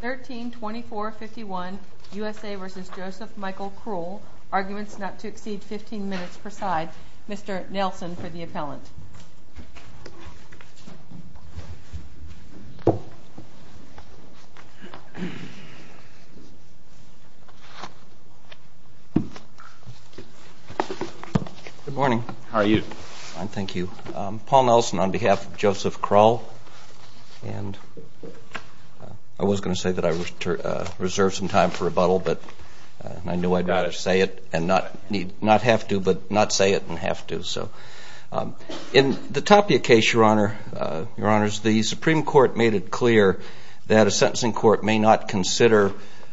132451 U.S.A. v. Joseph Michael Krul. Arguments not to exceed 15 minutes per side. Mr. Nelson for the appellant. Good morning. How are you? I'm fine, thank you. Paul Nelson on behalf of Joseph Krul. And I was going to say that I reserved some time for rebuttal, but I knew I'd better say it and not have to, but not say it and have to. In the Tapia case, Your Honor, the Supreme Court made it clear that a sentencing court may not consider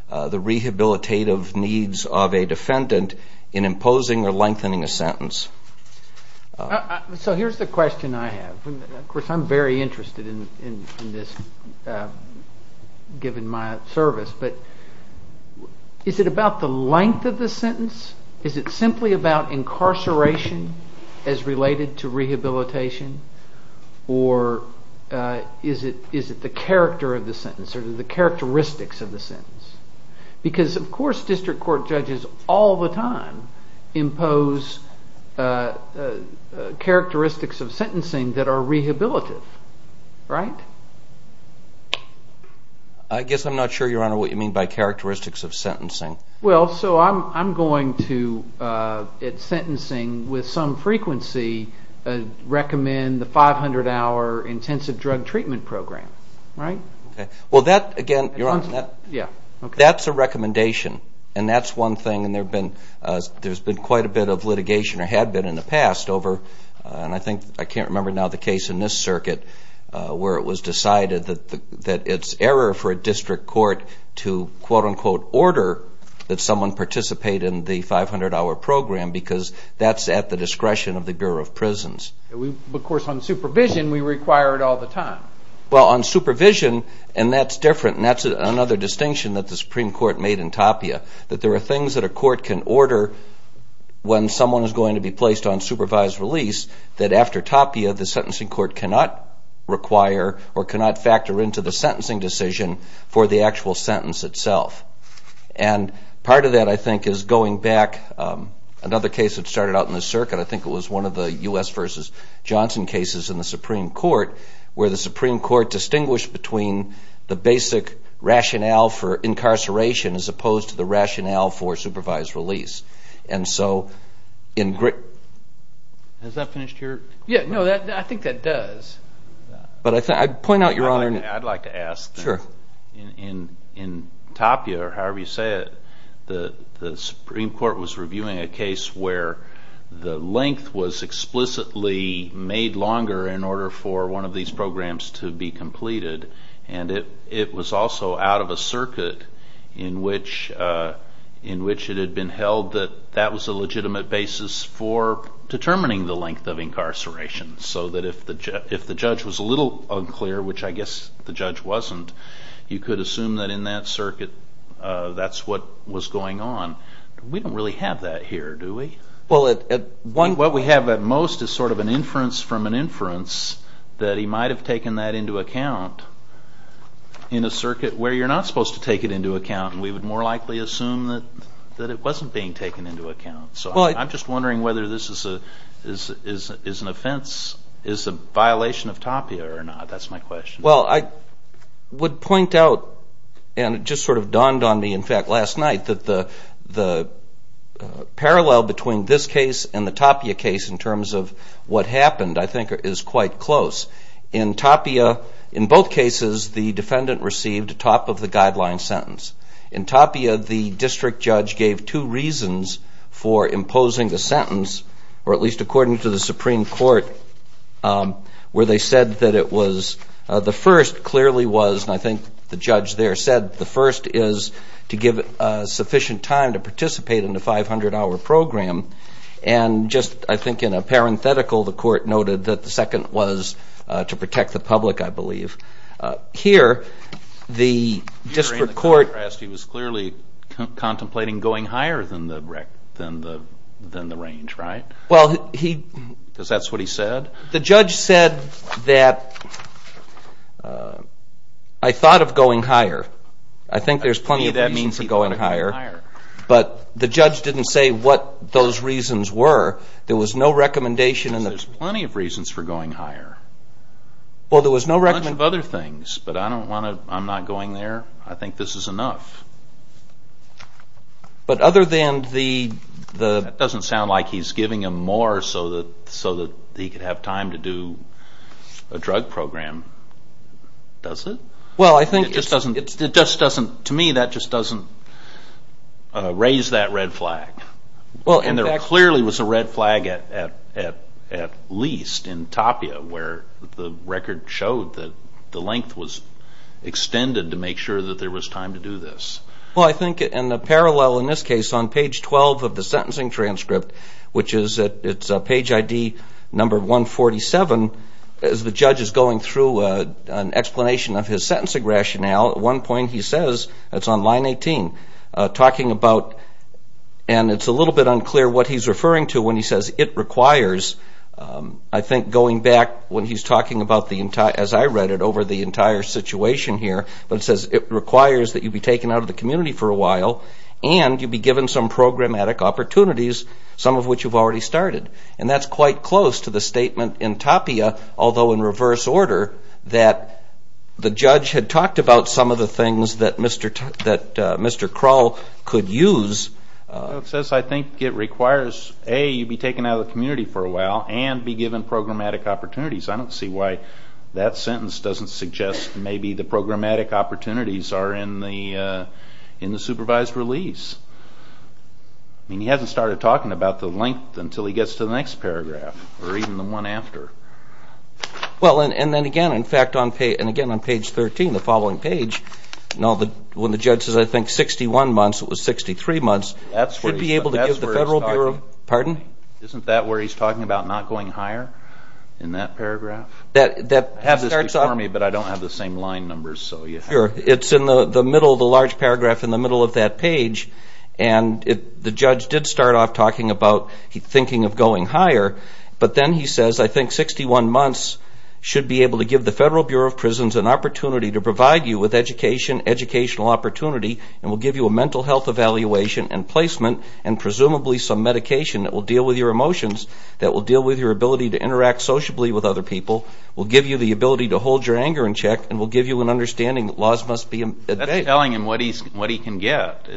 the rehabilitative needs of a defendant in imposing or lengthening a sentence. So here's the question I have. Of course, I'm very interested in this, given my service, but is it about the length of the sentence? Is it simply about incarceration as related to rehabilitation? Or is it the character of the sentence or the characteristics of the sentence? Because, of course, district court judges all the time impose characteristics of sentencing that are rehabilitative, right? I guess I'm not sure, Your Honor, what you mean by characteristics of sentencing. Well, so I'm going to, at sentencing, with some frequency, recommend the 500-hour intensive drug treatment program, right? Well, that, again, Your Honor, that's a recommendation, and that's one thing, and there's been quite a bit of litigation or had been in the past over, and I think, I can't remember now the case in this circuit, where it was decided that it's error for a district court to quote-unquote order that someone participate in the 500-hour program because that's at the discretion of the Bureau of Prisons. Of course, on supervision, we require it all the time. Well, on supervision, and that's different, and that's another distinction that the Supreme Court made in Tapia, that there are things that a court can order when someone is going to be placed on supervised release that, after Tapia, the sentencing court cannot require or cannot factor into the sentencing decision for the actual sentence itself. And part of that, I think, is going back, another case that started out in this circuit, I think it was one of the U.S. v. Johnson cases in the Supreme Court, where the Supreme Court distinguished between the basic rationale for incarceration as opposed to the rationale for supervised release. And so, in... Has that finished your... Yeah, no, I think that does. But I point out, Your Honor... I'd like to ask... Sure. In Tapia, or however you say it, the Supreme Court was reviewing a case where the length was explicitly made longer in order for one of these programs to be completed, and it was also out of a circuit in which it had been held that that was a legitimate basis for determining the length of incarceration, so that if the judge was a little unclear, which I guess the judge wasn't, you could assume that in that circuit that's what was going on. We don't really have that here, do we? Well, at one... What we have at most is sort of an inference from an inference that he might have taken that into account in a circuit where you're not supposed to take it into account, and we would more likely assume that it wasn't being taken into account. Well, I... So I'm just wondering whether this is an offense, is a violation of Tapia or not. That's my question. Well, I would point out, and it just sort of dawned on me, in fact, last night, that the parallel between this case and the Tapia case in terms of what happened I think is quite close. In Tapia, in both cases, the defendant received top of the guideline sentence. In Tapia, the district judge gave two reasons for imposing the sentence, or at least according to the Supreme Court, where they said that it was... And I think the judge there said the first is to give it sufficient time to participate in the 500-hour program. And just, I think, in a parenthetical, the court noted that the second was to protect the public, I believe. Here, the district court... Here in the contrast, he was clearly contemplating going higher than the range, right? Well, he... Because that's what he said? The judge said that, I thought of going higher. I think there's plenty of reasons for going higher. To me, that means he wanted to go higher. But the judge didn't say what those reasons were. There was no recommendation in the... Because there's plenty of reasons for going higher. Well, there was no recommendation... A bunch of other things, but I don't want to... I'm not going there. I think this is enough. But other than the... That doesn't sound like he's giving him more so that he could have time to do a drug program, does it? Well, I think... It just doesn't... To me, that just doesn't raise that red flag. Well, in fact... And there clearly was a red flag at least in Tapia, where the record showed that the length was extended to make sure that there was time to do this. Well, I think in the parallel in this case, on page 12 of the sentencing transcript, which is page ID number 147, as the judge is going through an explanation of his sentencing rationale, at one point he says... It's on line 18. Talking about... And it's a little bit unclear what he's referring to when he says, I think going back when he's talking about the entire... As I read it over the entire situation here, but it says it requires that you be taken out of the community for a while and you be given some programmatic opportunities, some of which you've already started. And that's quite close to the statement in Tapia, although in reverse order, that the judge had talked about some of the things that Mr. Kral could use. It says, I think it requires, A, you be taken out of the community for a while and be given programmatic opportunities. I don't see why that sentence doesn't suggest maybe the programmatic opportunities are in the supervised release. I mean, he hasn't started talking about the length until he gets to the next paragraph, or even the one after. Well, and then again, in fact, and again on page 13, the following page, when the judge says, I think 61 months, it was 63 months, should be able to give the Federal Bureau of... Pardon? Isn't that where he's talking about not going higher in that paragraph? That starts off... I have this before me, but I don't have the same line numbers. Sure. It's in the middle of the large paragraph in the middle of that page, and the judge did start off talking about thinking of going higher, but then he says, I think 61 months should be able to give the Federal Bureau of Prisons an opportunity to provide you with education, educational opportunity, and will give you a mental health evaluation and placement, and presumably some medication that will deal with your emotions, that will deal with your ability to interact sociably with other people, will give you the ability to hold your anger in check, and will give you an understanding that laws must be... That's telling him what he can get.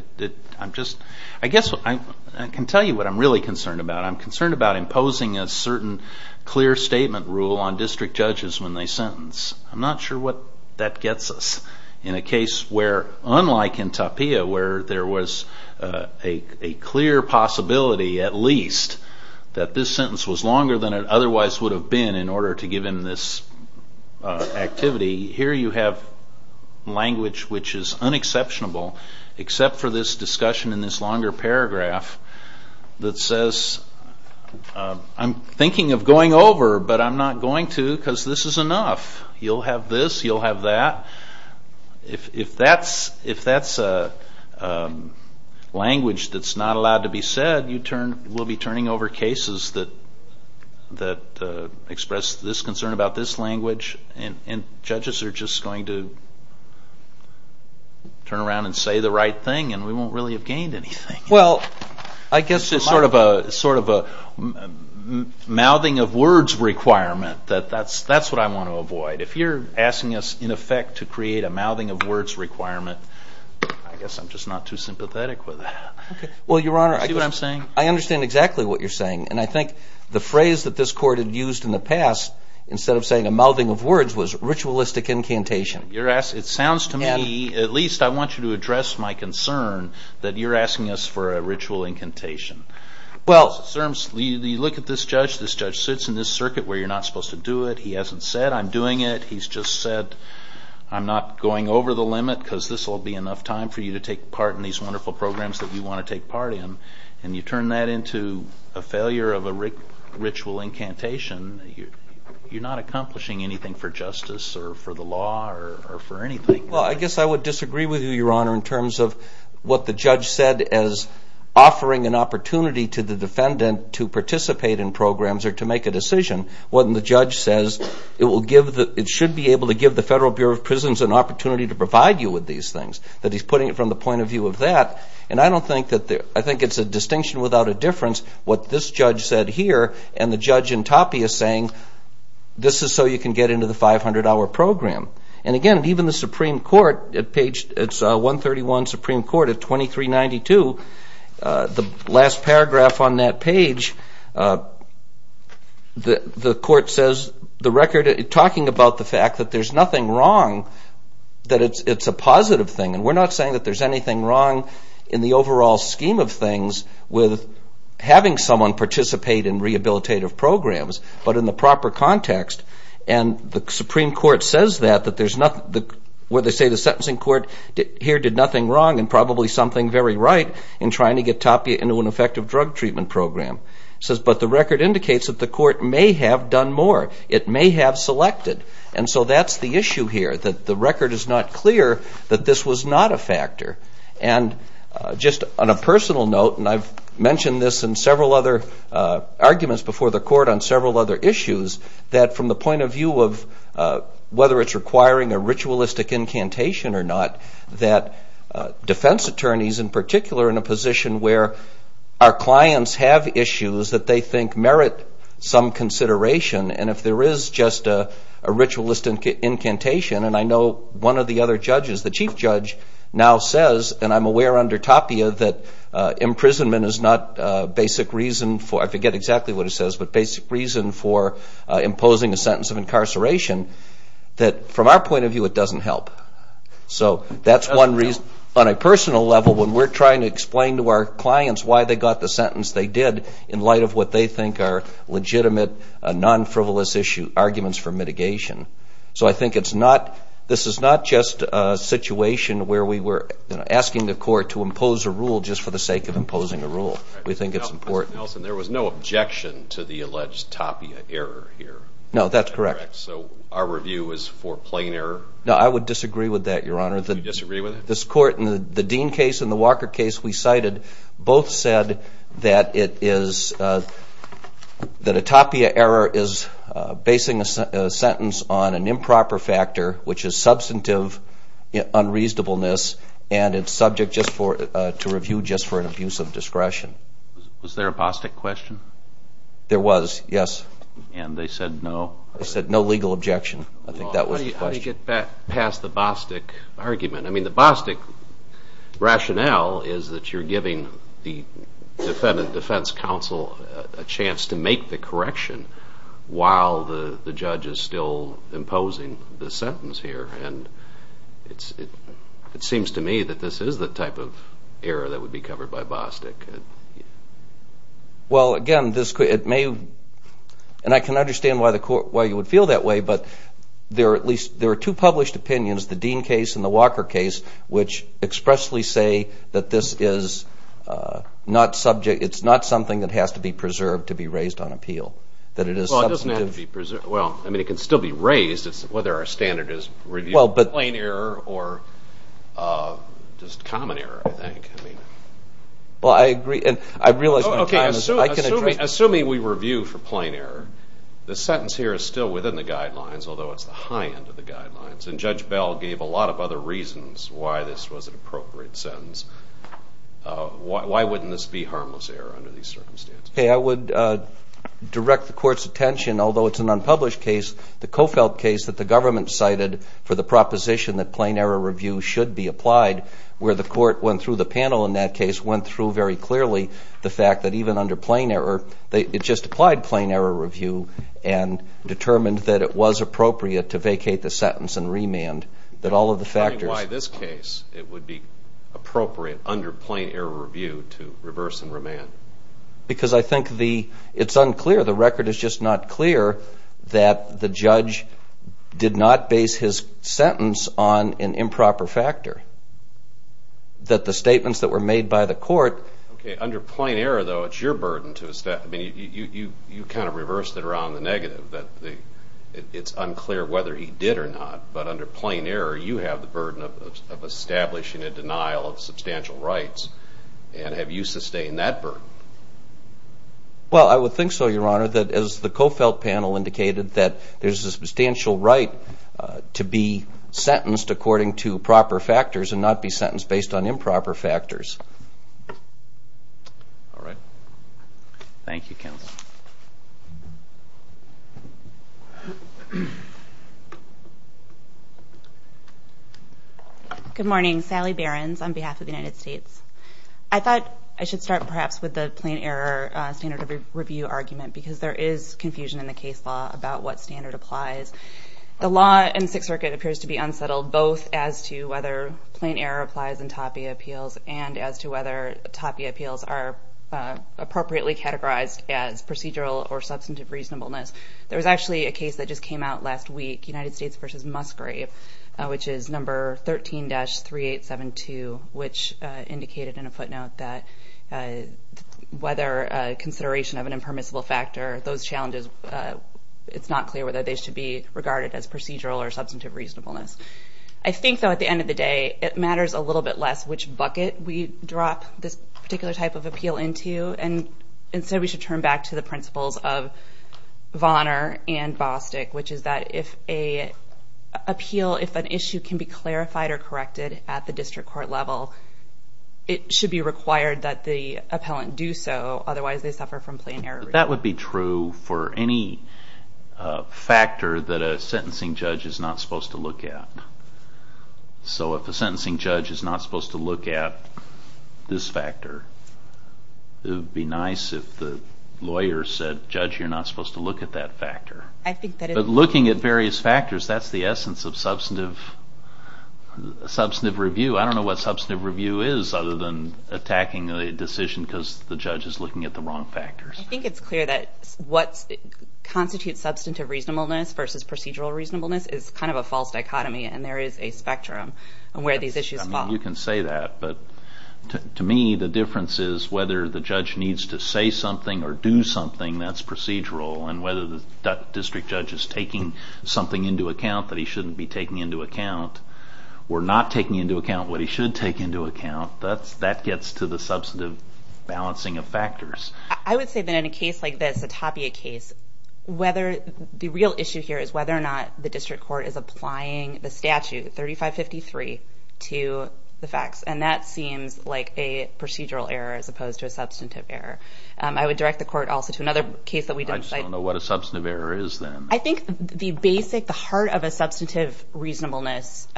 I guess I can tell you what I'm really concerned about. I'm concerned about imposing a certain clear statement rule on district judges when they sentence. I'm not sure what that gets us. In a case where, unlike in Tapia, where there was a clear possibility, at least, that this sentence was longer than it otherwise would have been in order to give him this activity, here you have language which is unexceptionable, except for this discussion in this longer paragraph that says, I'm thinking of going over, but I'm not going to because this is enough. You'll have this, you'll have that. If that's a language that's not allowed to be said, we'll be turning over cases that express this concern about this language, and judges are just going to turn around and say the right thing, and we won't really have gained anything. Well, I guess it's sort of a mouthing of words requirement. That's what I want to avoid. If you're asking us, in effect, to create a mouthing of words requirement, I guess I'm just not too sympathetic with that. Well, Your Honor, I understand exactly what you're saying, and I think the phrase that this Court had used in the past, instead of saying a mouthing of words, was ritualistic incantation. It sounds to me, at least I want you to address my concern, that you're asking us for a ritual incantation. Well, you look at this judge, this judge sits in this circuit where you're not supposed to do it. He hasn't said, I'm doing it. He's just said, I'm not going over the limit because this will be enough time for you to take part in these wonderful programs that you want to take part in, and you turn that into a failure of a ritual incantation, you're not accomplishing anything for justice or for the law or for anything. Well, I guess I would disagree with you, Your Honor, in terms of what the judge said as offering an opportunity to the defendant to participate in programs or to make a decision, when the judge says it should be able to give the Federal Bureau of Prisons an opportunity to provide you with these things, that he's putting it from the point of view of that. And I think it's a distinction without a difference what this judge said here, and the judge in Toppy is saying this is so you can get into the 500-hour program. And again, even the Supreme Court, it's 131 Supreme Court at 2392, the last paragraph on that page, the court says, talking about the fact that there's nothing wrong, that it's a positive thing. And we're not saying that there's anything wrong in the overall scheme of things with having someone participate in rehabilitative programs, but in the proper context. And the Supreme Court says that, that there's nothing, where they say the sentencing court here did nothing wrong and probably something very right in trying to get Toppy into an effective drug treatment program. It says, but the record indicates that the court may have done more. It may have selected. And so that's the issue here, that the record is not clear that this was not a factor. And just on a personal note, and I've mentioned this in several other arguments before the court on several other issues, that from the point of view of whether it's requiring a ritualistic incantation or not, that defense attorneys, in particular, in a position where our clients have issues that they think merit some consideration, and if there is just a ritualistic incantation, and I know one of the other judges, the chief judge, now says, and I'm aware under Toppy that imprisonment is not a basic reason for, I forget exactly what he says, but basic reason for imposing a sentence of incarceration, that from our point of view it doesn't help. So that's one reason. On a personal level, when we're trying to explain to our clients why they got the sentence they did in light of what they think are legitimate, non-frivolous arguments for mitigation. So I think it's not, this is not just a situation where we were asking the court to impose a rule just for the sake of imposing a rule. We think it's important. Mr. Nelson, there was no objection to the alleged Toppia error here. No, that's correct. So our review is for plain error? No, I would disagree with that, Your Honor. You disagree with it? This court, in the Dean case and the Walker case we cited, both said that it is, that a Toppia error is basing a sentence on an improper factor, which is substantive unreasonableness, and it's subject to review just for an abuse of discretion. Was there a Bostick question? There was, yes. And they said no? They said no legal objection. I think that was the question. How do you get past the Bostick argument? I mean, the Bostick rationale is that you're giving the Defendant Defense Counsel a chance to make the correction while the judge is still imposing the sentence here. And it seems to me that this is the type of error that would be covered by Bostick. Well, again, this could, it may, and I can understand why you would feel that way, but there are at least, there are two published opinions, the Dean case and the Walker case, which expressly say that this is not subject, it's not something that has to be preserved to be raised on appeal, that it is substantive. Well, it doesn't have to be preserved. Well, I mean, it can still be raised. It's whether our standard is review for plain error or just common error, I think. Well, I agree, and I realize my time is up. Assuming we review for plain error, the sentence here is still within the guidelines, although it's the high end of the guidelines. And Judge Bell gave a lot of other reasons why this was an appropriate sentence. Why wouldn't this be harmless error under these circumstances? I would direct the Court's attention, although it's an unpublished case, the Cofelt case that the government cited for the proposition that plain error review should be applied, where the Court went through the panel in that case, went through very clearly the fact that even under plain error, it just applied plain error review and determined that it was appropriate to vacate the sentence and remand, that all of the factors. Why this case it would be appropriate under plain error review to reverse and remand? Because I think it's unclear. The record is just not clear that the judge did not base his sentence on an improper factor, that the statements that were made by the Court. Okay. Under plain error, though, it's your burden to establish. I mean, you kind of reversed it around the negative, that it's unclear whether he did or not. But under plain error, you have the burden of establishing a denial of substantial rights. And have you sustained that burden? Well, I would think so, Your Honor, that as the Cofelt panel indicated, that there's a substantial right to be sentenced according to proper factors and not be sentenced based on improper factors. All right. Thank you, counsel. Good morning. Sally Behrens on behalf of the United States. I thought I should start perhaps with the plain error standard of review argument, because there is confusion in the case law about what standard applies. The law in Sixth Circuit appears to be unsettled, both as to whether plain error applies in TAPI appeals and as to whether TAPI appeals are appropriately categorized as procedural or substantive reasonableness. There was actually a case that just came out last week, United States v. Musgrave, which is number 13-3872, which indicated in a footnote that whether consideration of an impermissible factor, those challenges, it's not clear whether they should be regarded as procedural or substantive reasonableness. I think, though, at the end of the day, it matters a little bit less which bucket we drop this particular type of appeal into, and instead we should turn back to the principles of Vonner and Bostic, which is that if an issue can be clarified or corrected at the district court level, it should be required that the appellant do so, otherwise they suffer from plain error. That would be true for any factor that a sentencing judge is not supposed to look at. So if a sentencing judge is not supposed to look at this factor, it would be nice if the lawyer said, Judge, you're not supposed to look at that factor. But looking at various factors, that's the essence of substantive review. I don't know what substantive review is other than attacking a decision because the judge is looking at the wrong factors. I think it's clear that what constitutes substantive reasonableness versus procedural reasonableness is kind of a false dichotomy, and there is a spectrum where these issues fall. You can say that, but to me the difference is whether the judge needs to say something or do something that's procedural, and whether the district judge is taking something into account that he shouldn't be taking into account, or not taking into account what he should take into account, that gets to the substantive balancing of factors. I would say that in a case like this, a Tapia case, the real issue here is whether or not the district court is applying the statute 3553 to the facts, and that seems like a procedural error as opposed to a substantive error. I would direct the court also to another case that we didn't cite. I just don't know what a substantive error is then. I think the basic, the heart of a substantive reasonableness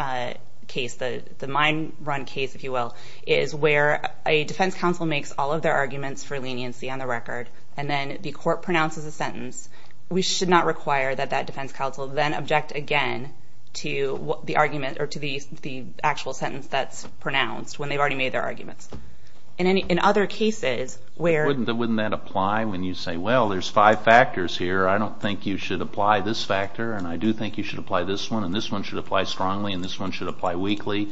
case, the mine run case, if you will, is where a defense counsel makes all of their arguments for leniency on the record, and then the court pronounces a sentence. We should not require that that defense counsel then object again to the argument or to the actual sentence that's pronounced when they've already made their arguments. In other cases where... Wouldn't that apply when you say, well, there's five factors here. I don't think you should apply this factor, and I do think you should apply this one, and this one should apply strongly, and this one should apply weakly.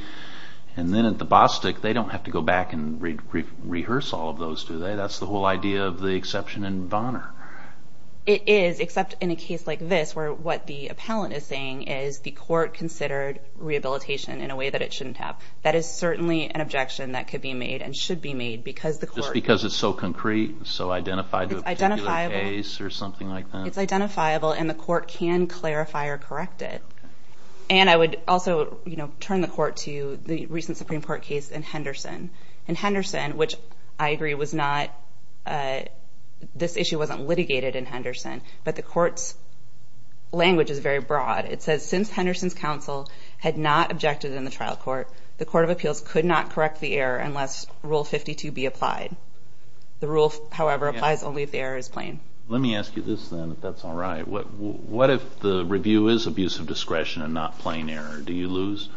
And then at the Bostik, they don't have to go back and rehearse all of those, do they? That's the whole idea of the exception in Bonner. It is, except in a case like this where what the appellant is saying is the court considered rehabilitation in a way that it shouldn't have. That is certainly an objection that could be made and should be made because the court... Just because it's so concrete, so identified to a particular case or something like that? It's identifiable, and the court can clarify or correct it. And I would also turn the court to the recent Supreme Court case in Henderson. In Henderson, which I agree was not... This issue wasn't litigated in Henderson, but the court's language is very broad. It says, since Henderson's counsel had not objected in the trial court, the Court of Appeals could not correct the error unless Rule 52 be applied. The rule, however, applies only if the error is plain. Let me ask you this, then, if that's all right. What if the review is abuse of discretion and not plain error? Do you lose?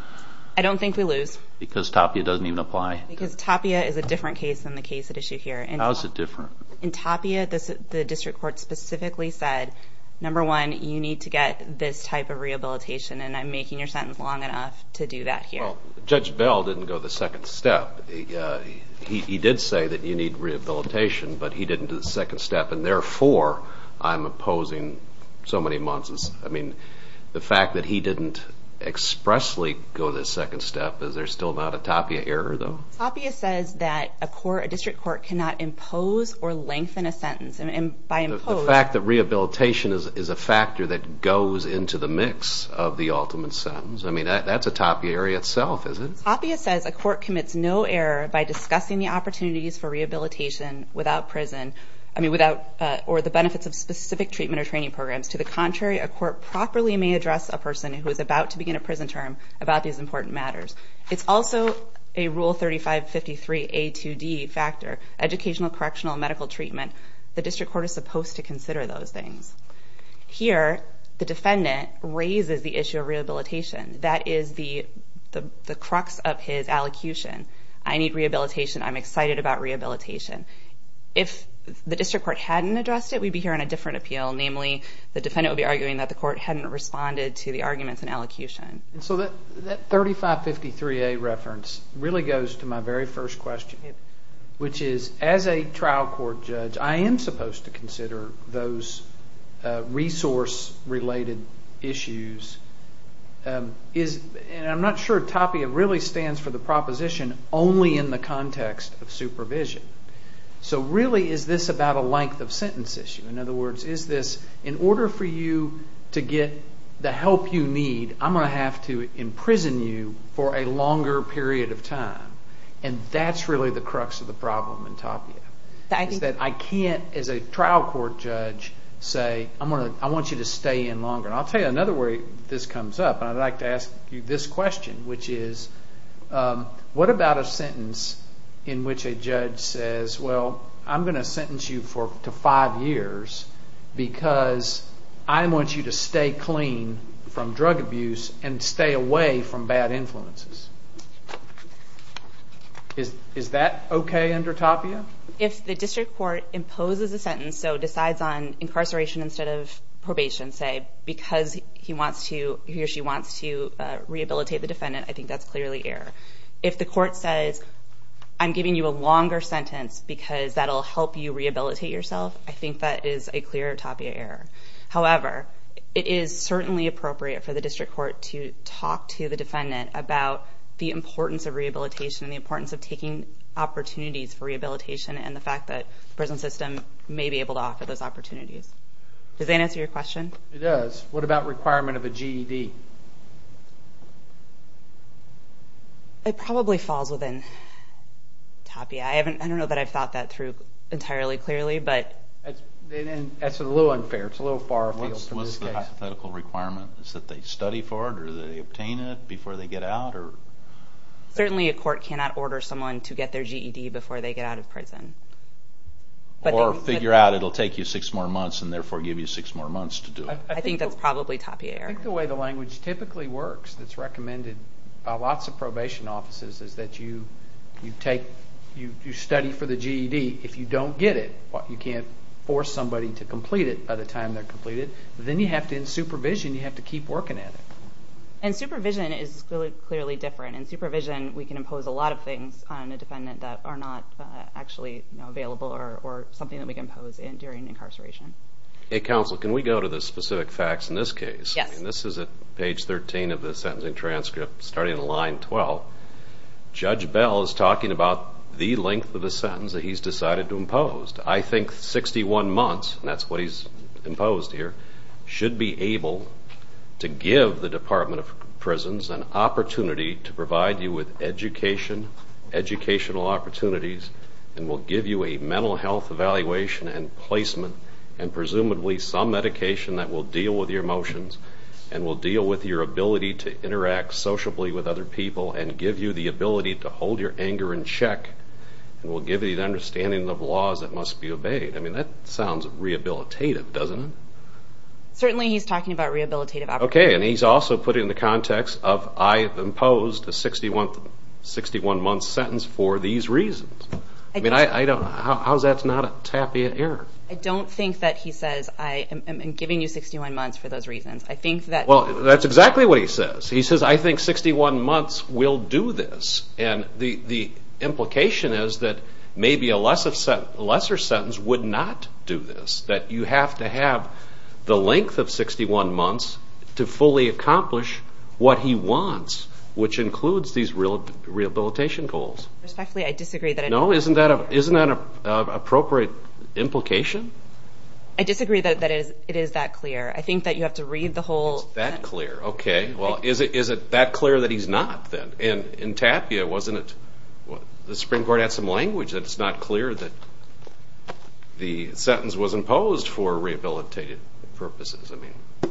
I don't think we lose. Because Tapia doesn't even apply? Because Tapia is a different case than the case at issue here. How is it different? In Tapia, the district court specifically said, number one, you need to get this type of rehabilitation, and I'm making your sentence long enough to do that here. Well, Judge Bell didn't go the second step. He did say that you need rehabilitation, but he didn't do the second step, and, therefore, I'm opposing so many months. I mean, the fact that he didn't expressly go the second step, is there still not a Tapia error, though? Tapia says that a district court cannot impose or lengthen a sentence. The fact that rehabilitation is a factor that goes into the mix of the ultimate sentence, I mean, that's a Tapia error itself, isn't it? Tapia says a court commits no error by discussing the opportunities for rehabilitation without prison or the benefits of specific treatment or training programs. To the contrary, a court properly may address a person who is about to begin a prison term about these important matters. It's also a Rule 3553A2D factor, educational, correctional, medical treatment. The district court is supposed to consider those things. Here, the defendant raises the issue of rehabilitation. That is the crux of his allocution. I need rehabilitation. I'm excited about rehabilitation. If the district court hadn't addressed it, we'd be hearing a different appeal, namely the defendant would be arguing that the court hadn't responded to the arguments in allocution. So that 3553A reference really goes to my very first question, which is as a trial court judge, I am supposed to consider those resource-related issues. And I'm not sure Tapia really stands for the proposition only in the context of supervision. So really, is this about a length of sentence issue? In other words, is this in order for you to get the help you need, I'm going to have to imprison you for a longer period of time. And that's really the crux of the problem in Tapia. I can't, as a trial court judge, say I want you to stay in longer. And I'll tell you another way this comes up, and I'd like to ask you this question, which is what about a sentence in which a judge says, well, I'm going to sentence you to five years because I want you to stay clean from drug abuse and stay away from bad influences. Is that okay under Tapia? If the district court imposes a sentence, so decides on incarceration instead of probation, say, because he or she wants to rehabilitate the defendant, I think that's clearly error. If the court says, I'm giving you a longer sentence because that will help you rehabilitate yourself, I think that is a clear Tapia error. However, it is certainly appropriate for the district court to talk to the defendant about the importance of rehabilitation and the importance of taking opportunities for rehabilitation and the fact that the prison system may be able to offer those opportunities. Does that answer your question? It does. What about requirement of a GED? It probably falls within Tapia. I don't know that I've thought that through entirely clearly. That's a little unfair. It's a little far afield. What's the hypothetical requirement? Is it that they study for it or they obtain it before they get out? Certainly a court cannot order someone to get their GED before they get out of prison. Or figure out it will take you six more months and therefore give you six more months to do it. I think that's probably Tapia error. I think the way the language typically works that's recommended by lots of probation offices is that you study for the GED. If you don't get it, you can't force somebody to complete it by the time they're completed. Then in supervision, you have to keep working at it. And supervision is clearly different. In supervision, we can impose a lot of things on a defendant that are not actually available or something that we can impose during incarceration. Counsel, can we go to the specific facts in this case? Yes. This is at page 13 of the sentencing transcript starting at line 12. Judge Bell is talking about the length of the sentence that he's decided to impose. I think 61 months, and that's what he's imposed here, should be able to give the Department of Prisons an opportunity to provide you with education, educational opportunities, and will give you a mental health evaluation and placement and presumably some medication that will deal with your emotions and will deal with your ability to interact sociably with other people and give you the ability to hold your anger in check and will give you the understanding of laws that must be obeyed. I mean, that sounds rehabilitative, doesn't it? Certainly, he's talking about rehabilitative operations. Okay, and he's also putting the context of, I've imposed a 61-month sentence for these reasons. I mean, how is that not a tapiot error? I don't think that he says, I am giving you 61 months for those reasons. I think that... Well, that's exactly what he says. He says, I think 61 months will do this. And the implication is that maybe a lesser sentence would not do this, that you have to have the length of 61 months to fully accomplish what he wants, which includes these rehabilitation goals. Respectfully, I disagree that... No, isn't that an appropriate implication? I disagree that it is that clear. I think that you have to read the whole... It's that clear. Okay, well, is it that clear that he's not, then? In tapiot, wasn't it the Supreme Court had some language that it's not clear that the sentence was imposed for rehabilitative purposes?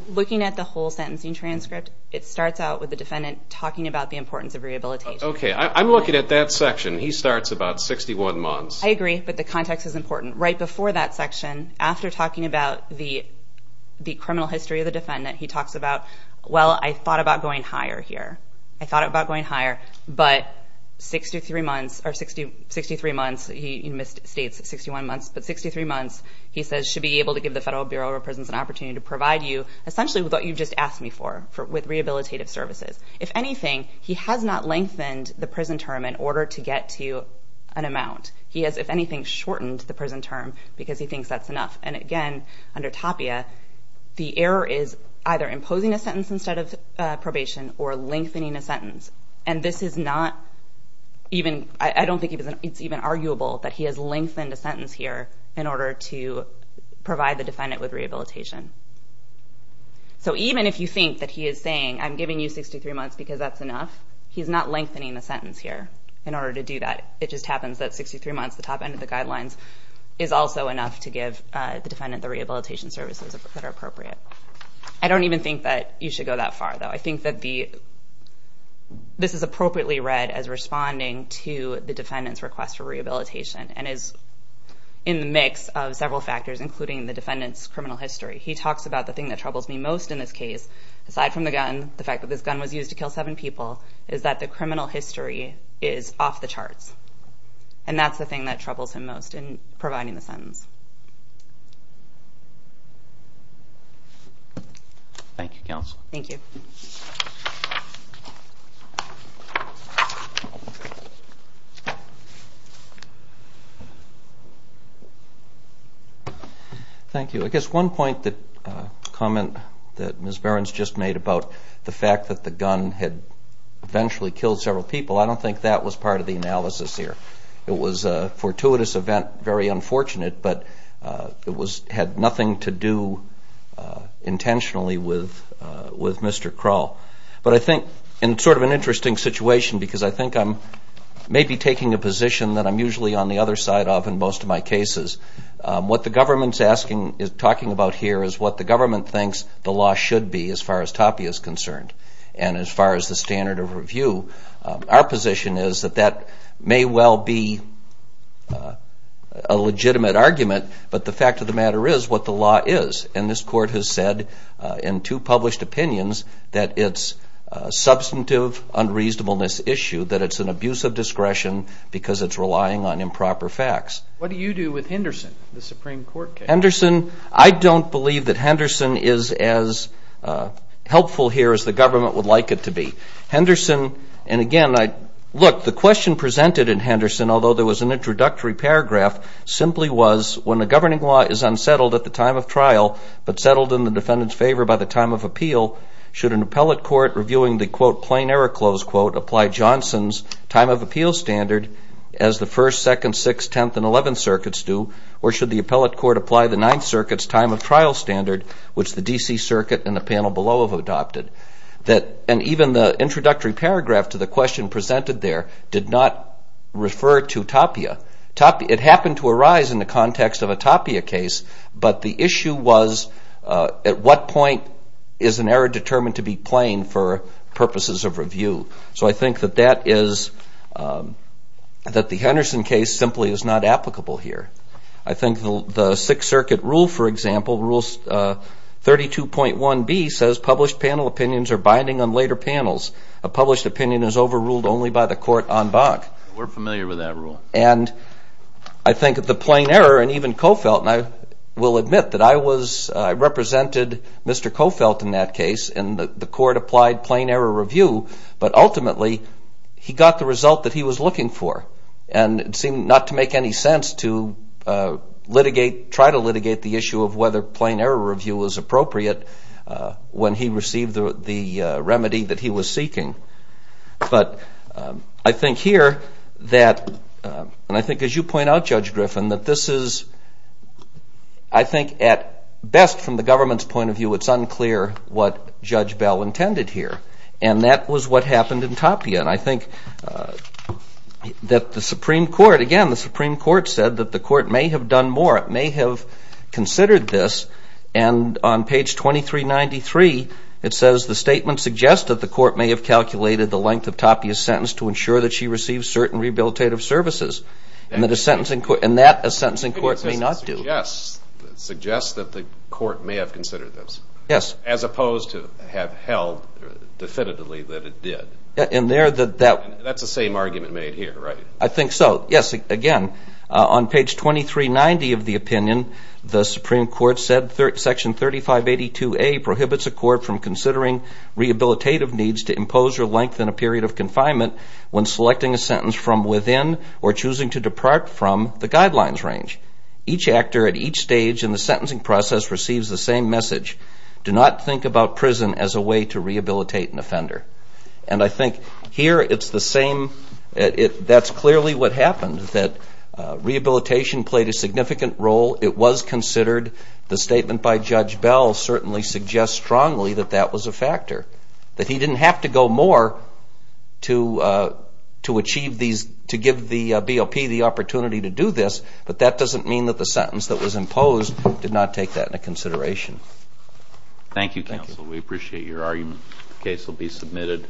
Looking at the whole sentencing transcript, it starts out with the defendant talking about the importance of rehabilitation. Okay, I'm looking at that section. He starts about 61 months. I agree, but the context is important. Right before that section, after talking about the criminal history of the defendant, he talks about, well, I thought about going higher here. I thought about going higher, but 63 months, he misstates 61 months, but 63 months, he says, should be able to give the Federal Bureau of Prisons an opportunity to provide you essentially with what you've just asked me for, with rehabilitative services. If anything, he has not lengthened the prison term in order to get to an amount. He has, if anything, shortened the prison term because he thinks that's enough. And, again, under tapia, the error is either imposing a sentence instead of probation or lengthening a sentence, and this is not even, I don't think it's even arguable that he has lengthened a sentence here in order to provide the defendant with rehabilitation. So even if you think that he is saying, I'm giving you 63 months because that's enough, he's not lengthening the sentence here in order to do that. It just happens that 63 months, the top end of the guidelines, is also enough to give the defendant the rehabilitation services that are appropriate. I don't even think that you should go that far, though. I think that this is appropriately read as responding to the defendant's request for rehabilitation and is in the mix of several factors, including the defendant's criminal history. He talks about the thing that troubles me most in this case, aside from the gun, the fact that this gun was used to kill seven people, is that the criminal history is off the charts. And that's the thing that troubles him most in providing the sentence. Thank you, Counsel. Thank you. Thank you. I guess one point that Ms. Behrens just made about the fact that the gun had eventually killed several people, I don't think that was part of the analysis here. It was a fortuitous event, very unfortunate, but it had nothing to do intentionally with Mr. Kral. But I think in sort of an interesting situation, because I think I'm maybe taking a position that I'm usually on the other side of in most of my cases, what the government is talking about here is what the government thinks the law should be, as far as TAPI is concerned, and as far as the standard of review. Our position is that that may well be a legitimate argument, but the fact of the matter is what the law is. And this Court has said in two published opinions that it's a substantive unreasonableness issue, that it's an abuse of discretion because it's relying on improper facts. What do you do with Henderson, the Supreme Court case? Henderson, I don't believe that Henderson is as helpful here as the government would like it to be. Henderson, and again, look, the question presented in Henderson, although there was an introductory paragraph, simply was when a governing law is unsettled at the time of trial, but settled in the defendant's favor by the time of appeal, should an appellate court reviewing the, quote, plain error close quote, apply Johnson's time of appeal standard as the First, Second, Sixth, Tenth, and Eleventh Circuits do, or should the appellate court apply the Ninth Circuit's time of trial standard, which the D.C. Circuit and the panel below have adopted? And even the introductory paragraph to the question presented there did not refer to Tapia. It happened to arise in the context of a Tapia case, but the issue was at what point is an error determined to be plain for purposes of review? So I think that that is, that the Henderson case simply is not applicable here. I think the Sixth Circuit rule, for example, Rule 32.1b, says published panel opinions are binding on later panels. A published opinion is overruled only by the court en banc. We're familiar with that rule. And I think that the plain error, and even Cofelt, and I will admit that I was, I represented Mr. Cofelt in that case, and the court applied plain error review, but ultimately he got the result that he was looking for, and it seemed not to make any sense to litigate, try to litigate the issue of whether plain error review was appropriate when he received the remedy that he was seeking. But I think here that, and I think as you point out, Judge Griffin, that this is, I think at best from the government's point of view, it's unclear what Judge Bell intended here. And that was what happened in Tapia. And I think that the Supreme Court, again, the Supreme Court said that the court may have done more. It may have considered this. And on page 2393, it says the statement suggests that the court may have calculated the length of Tapia's sentence to ensure that she received certain rehabilitative services. And that a sentencing court may not do. It suggests that the court may have considered this. Yes. As opposed to have held definitively that it did. That's the same argument made here, right? I think so. Yes. Again, on page 2390 of the opinion, the Supreme Court said Section 3582A prohibits a court from considering rehabilitative needs to impose or lengthen a period of confinement when selecting a sentence from within or choosing to depart from the guidelines range. Each actor at each stage in the sentencing process receives the same message. Do not think about prison as a way to rehabilitate an offender. And I think here it's the same. That's clearly what happened, that rehabilitation played a significant role. It was considered. The statement by Judge Bell certainly suggests strongly that that was a factor, that he didn't have to go more to give the BOP the opportunity to do this, but that doesn't mean that the sentence that was imposed did not take that into consideration. Thank you, counsel. We appreciate your argument. The case will be submitted.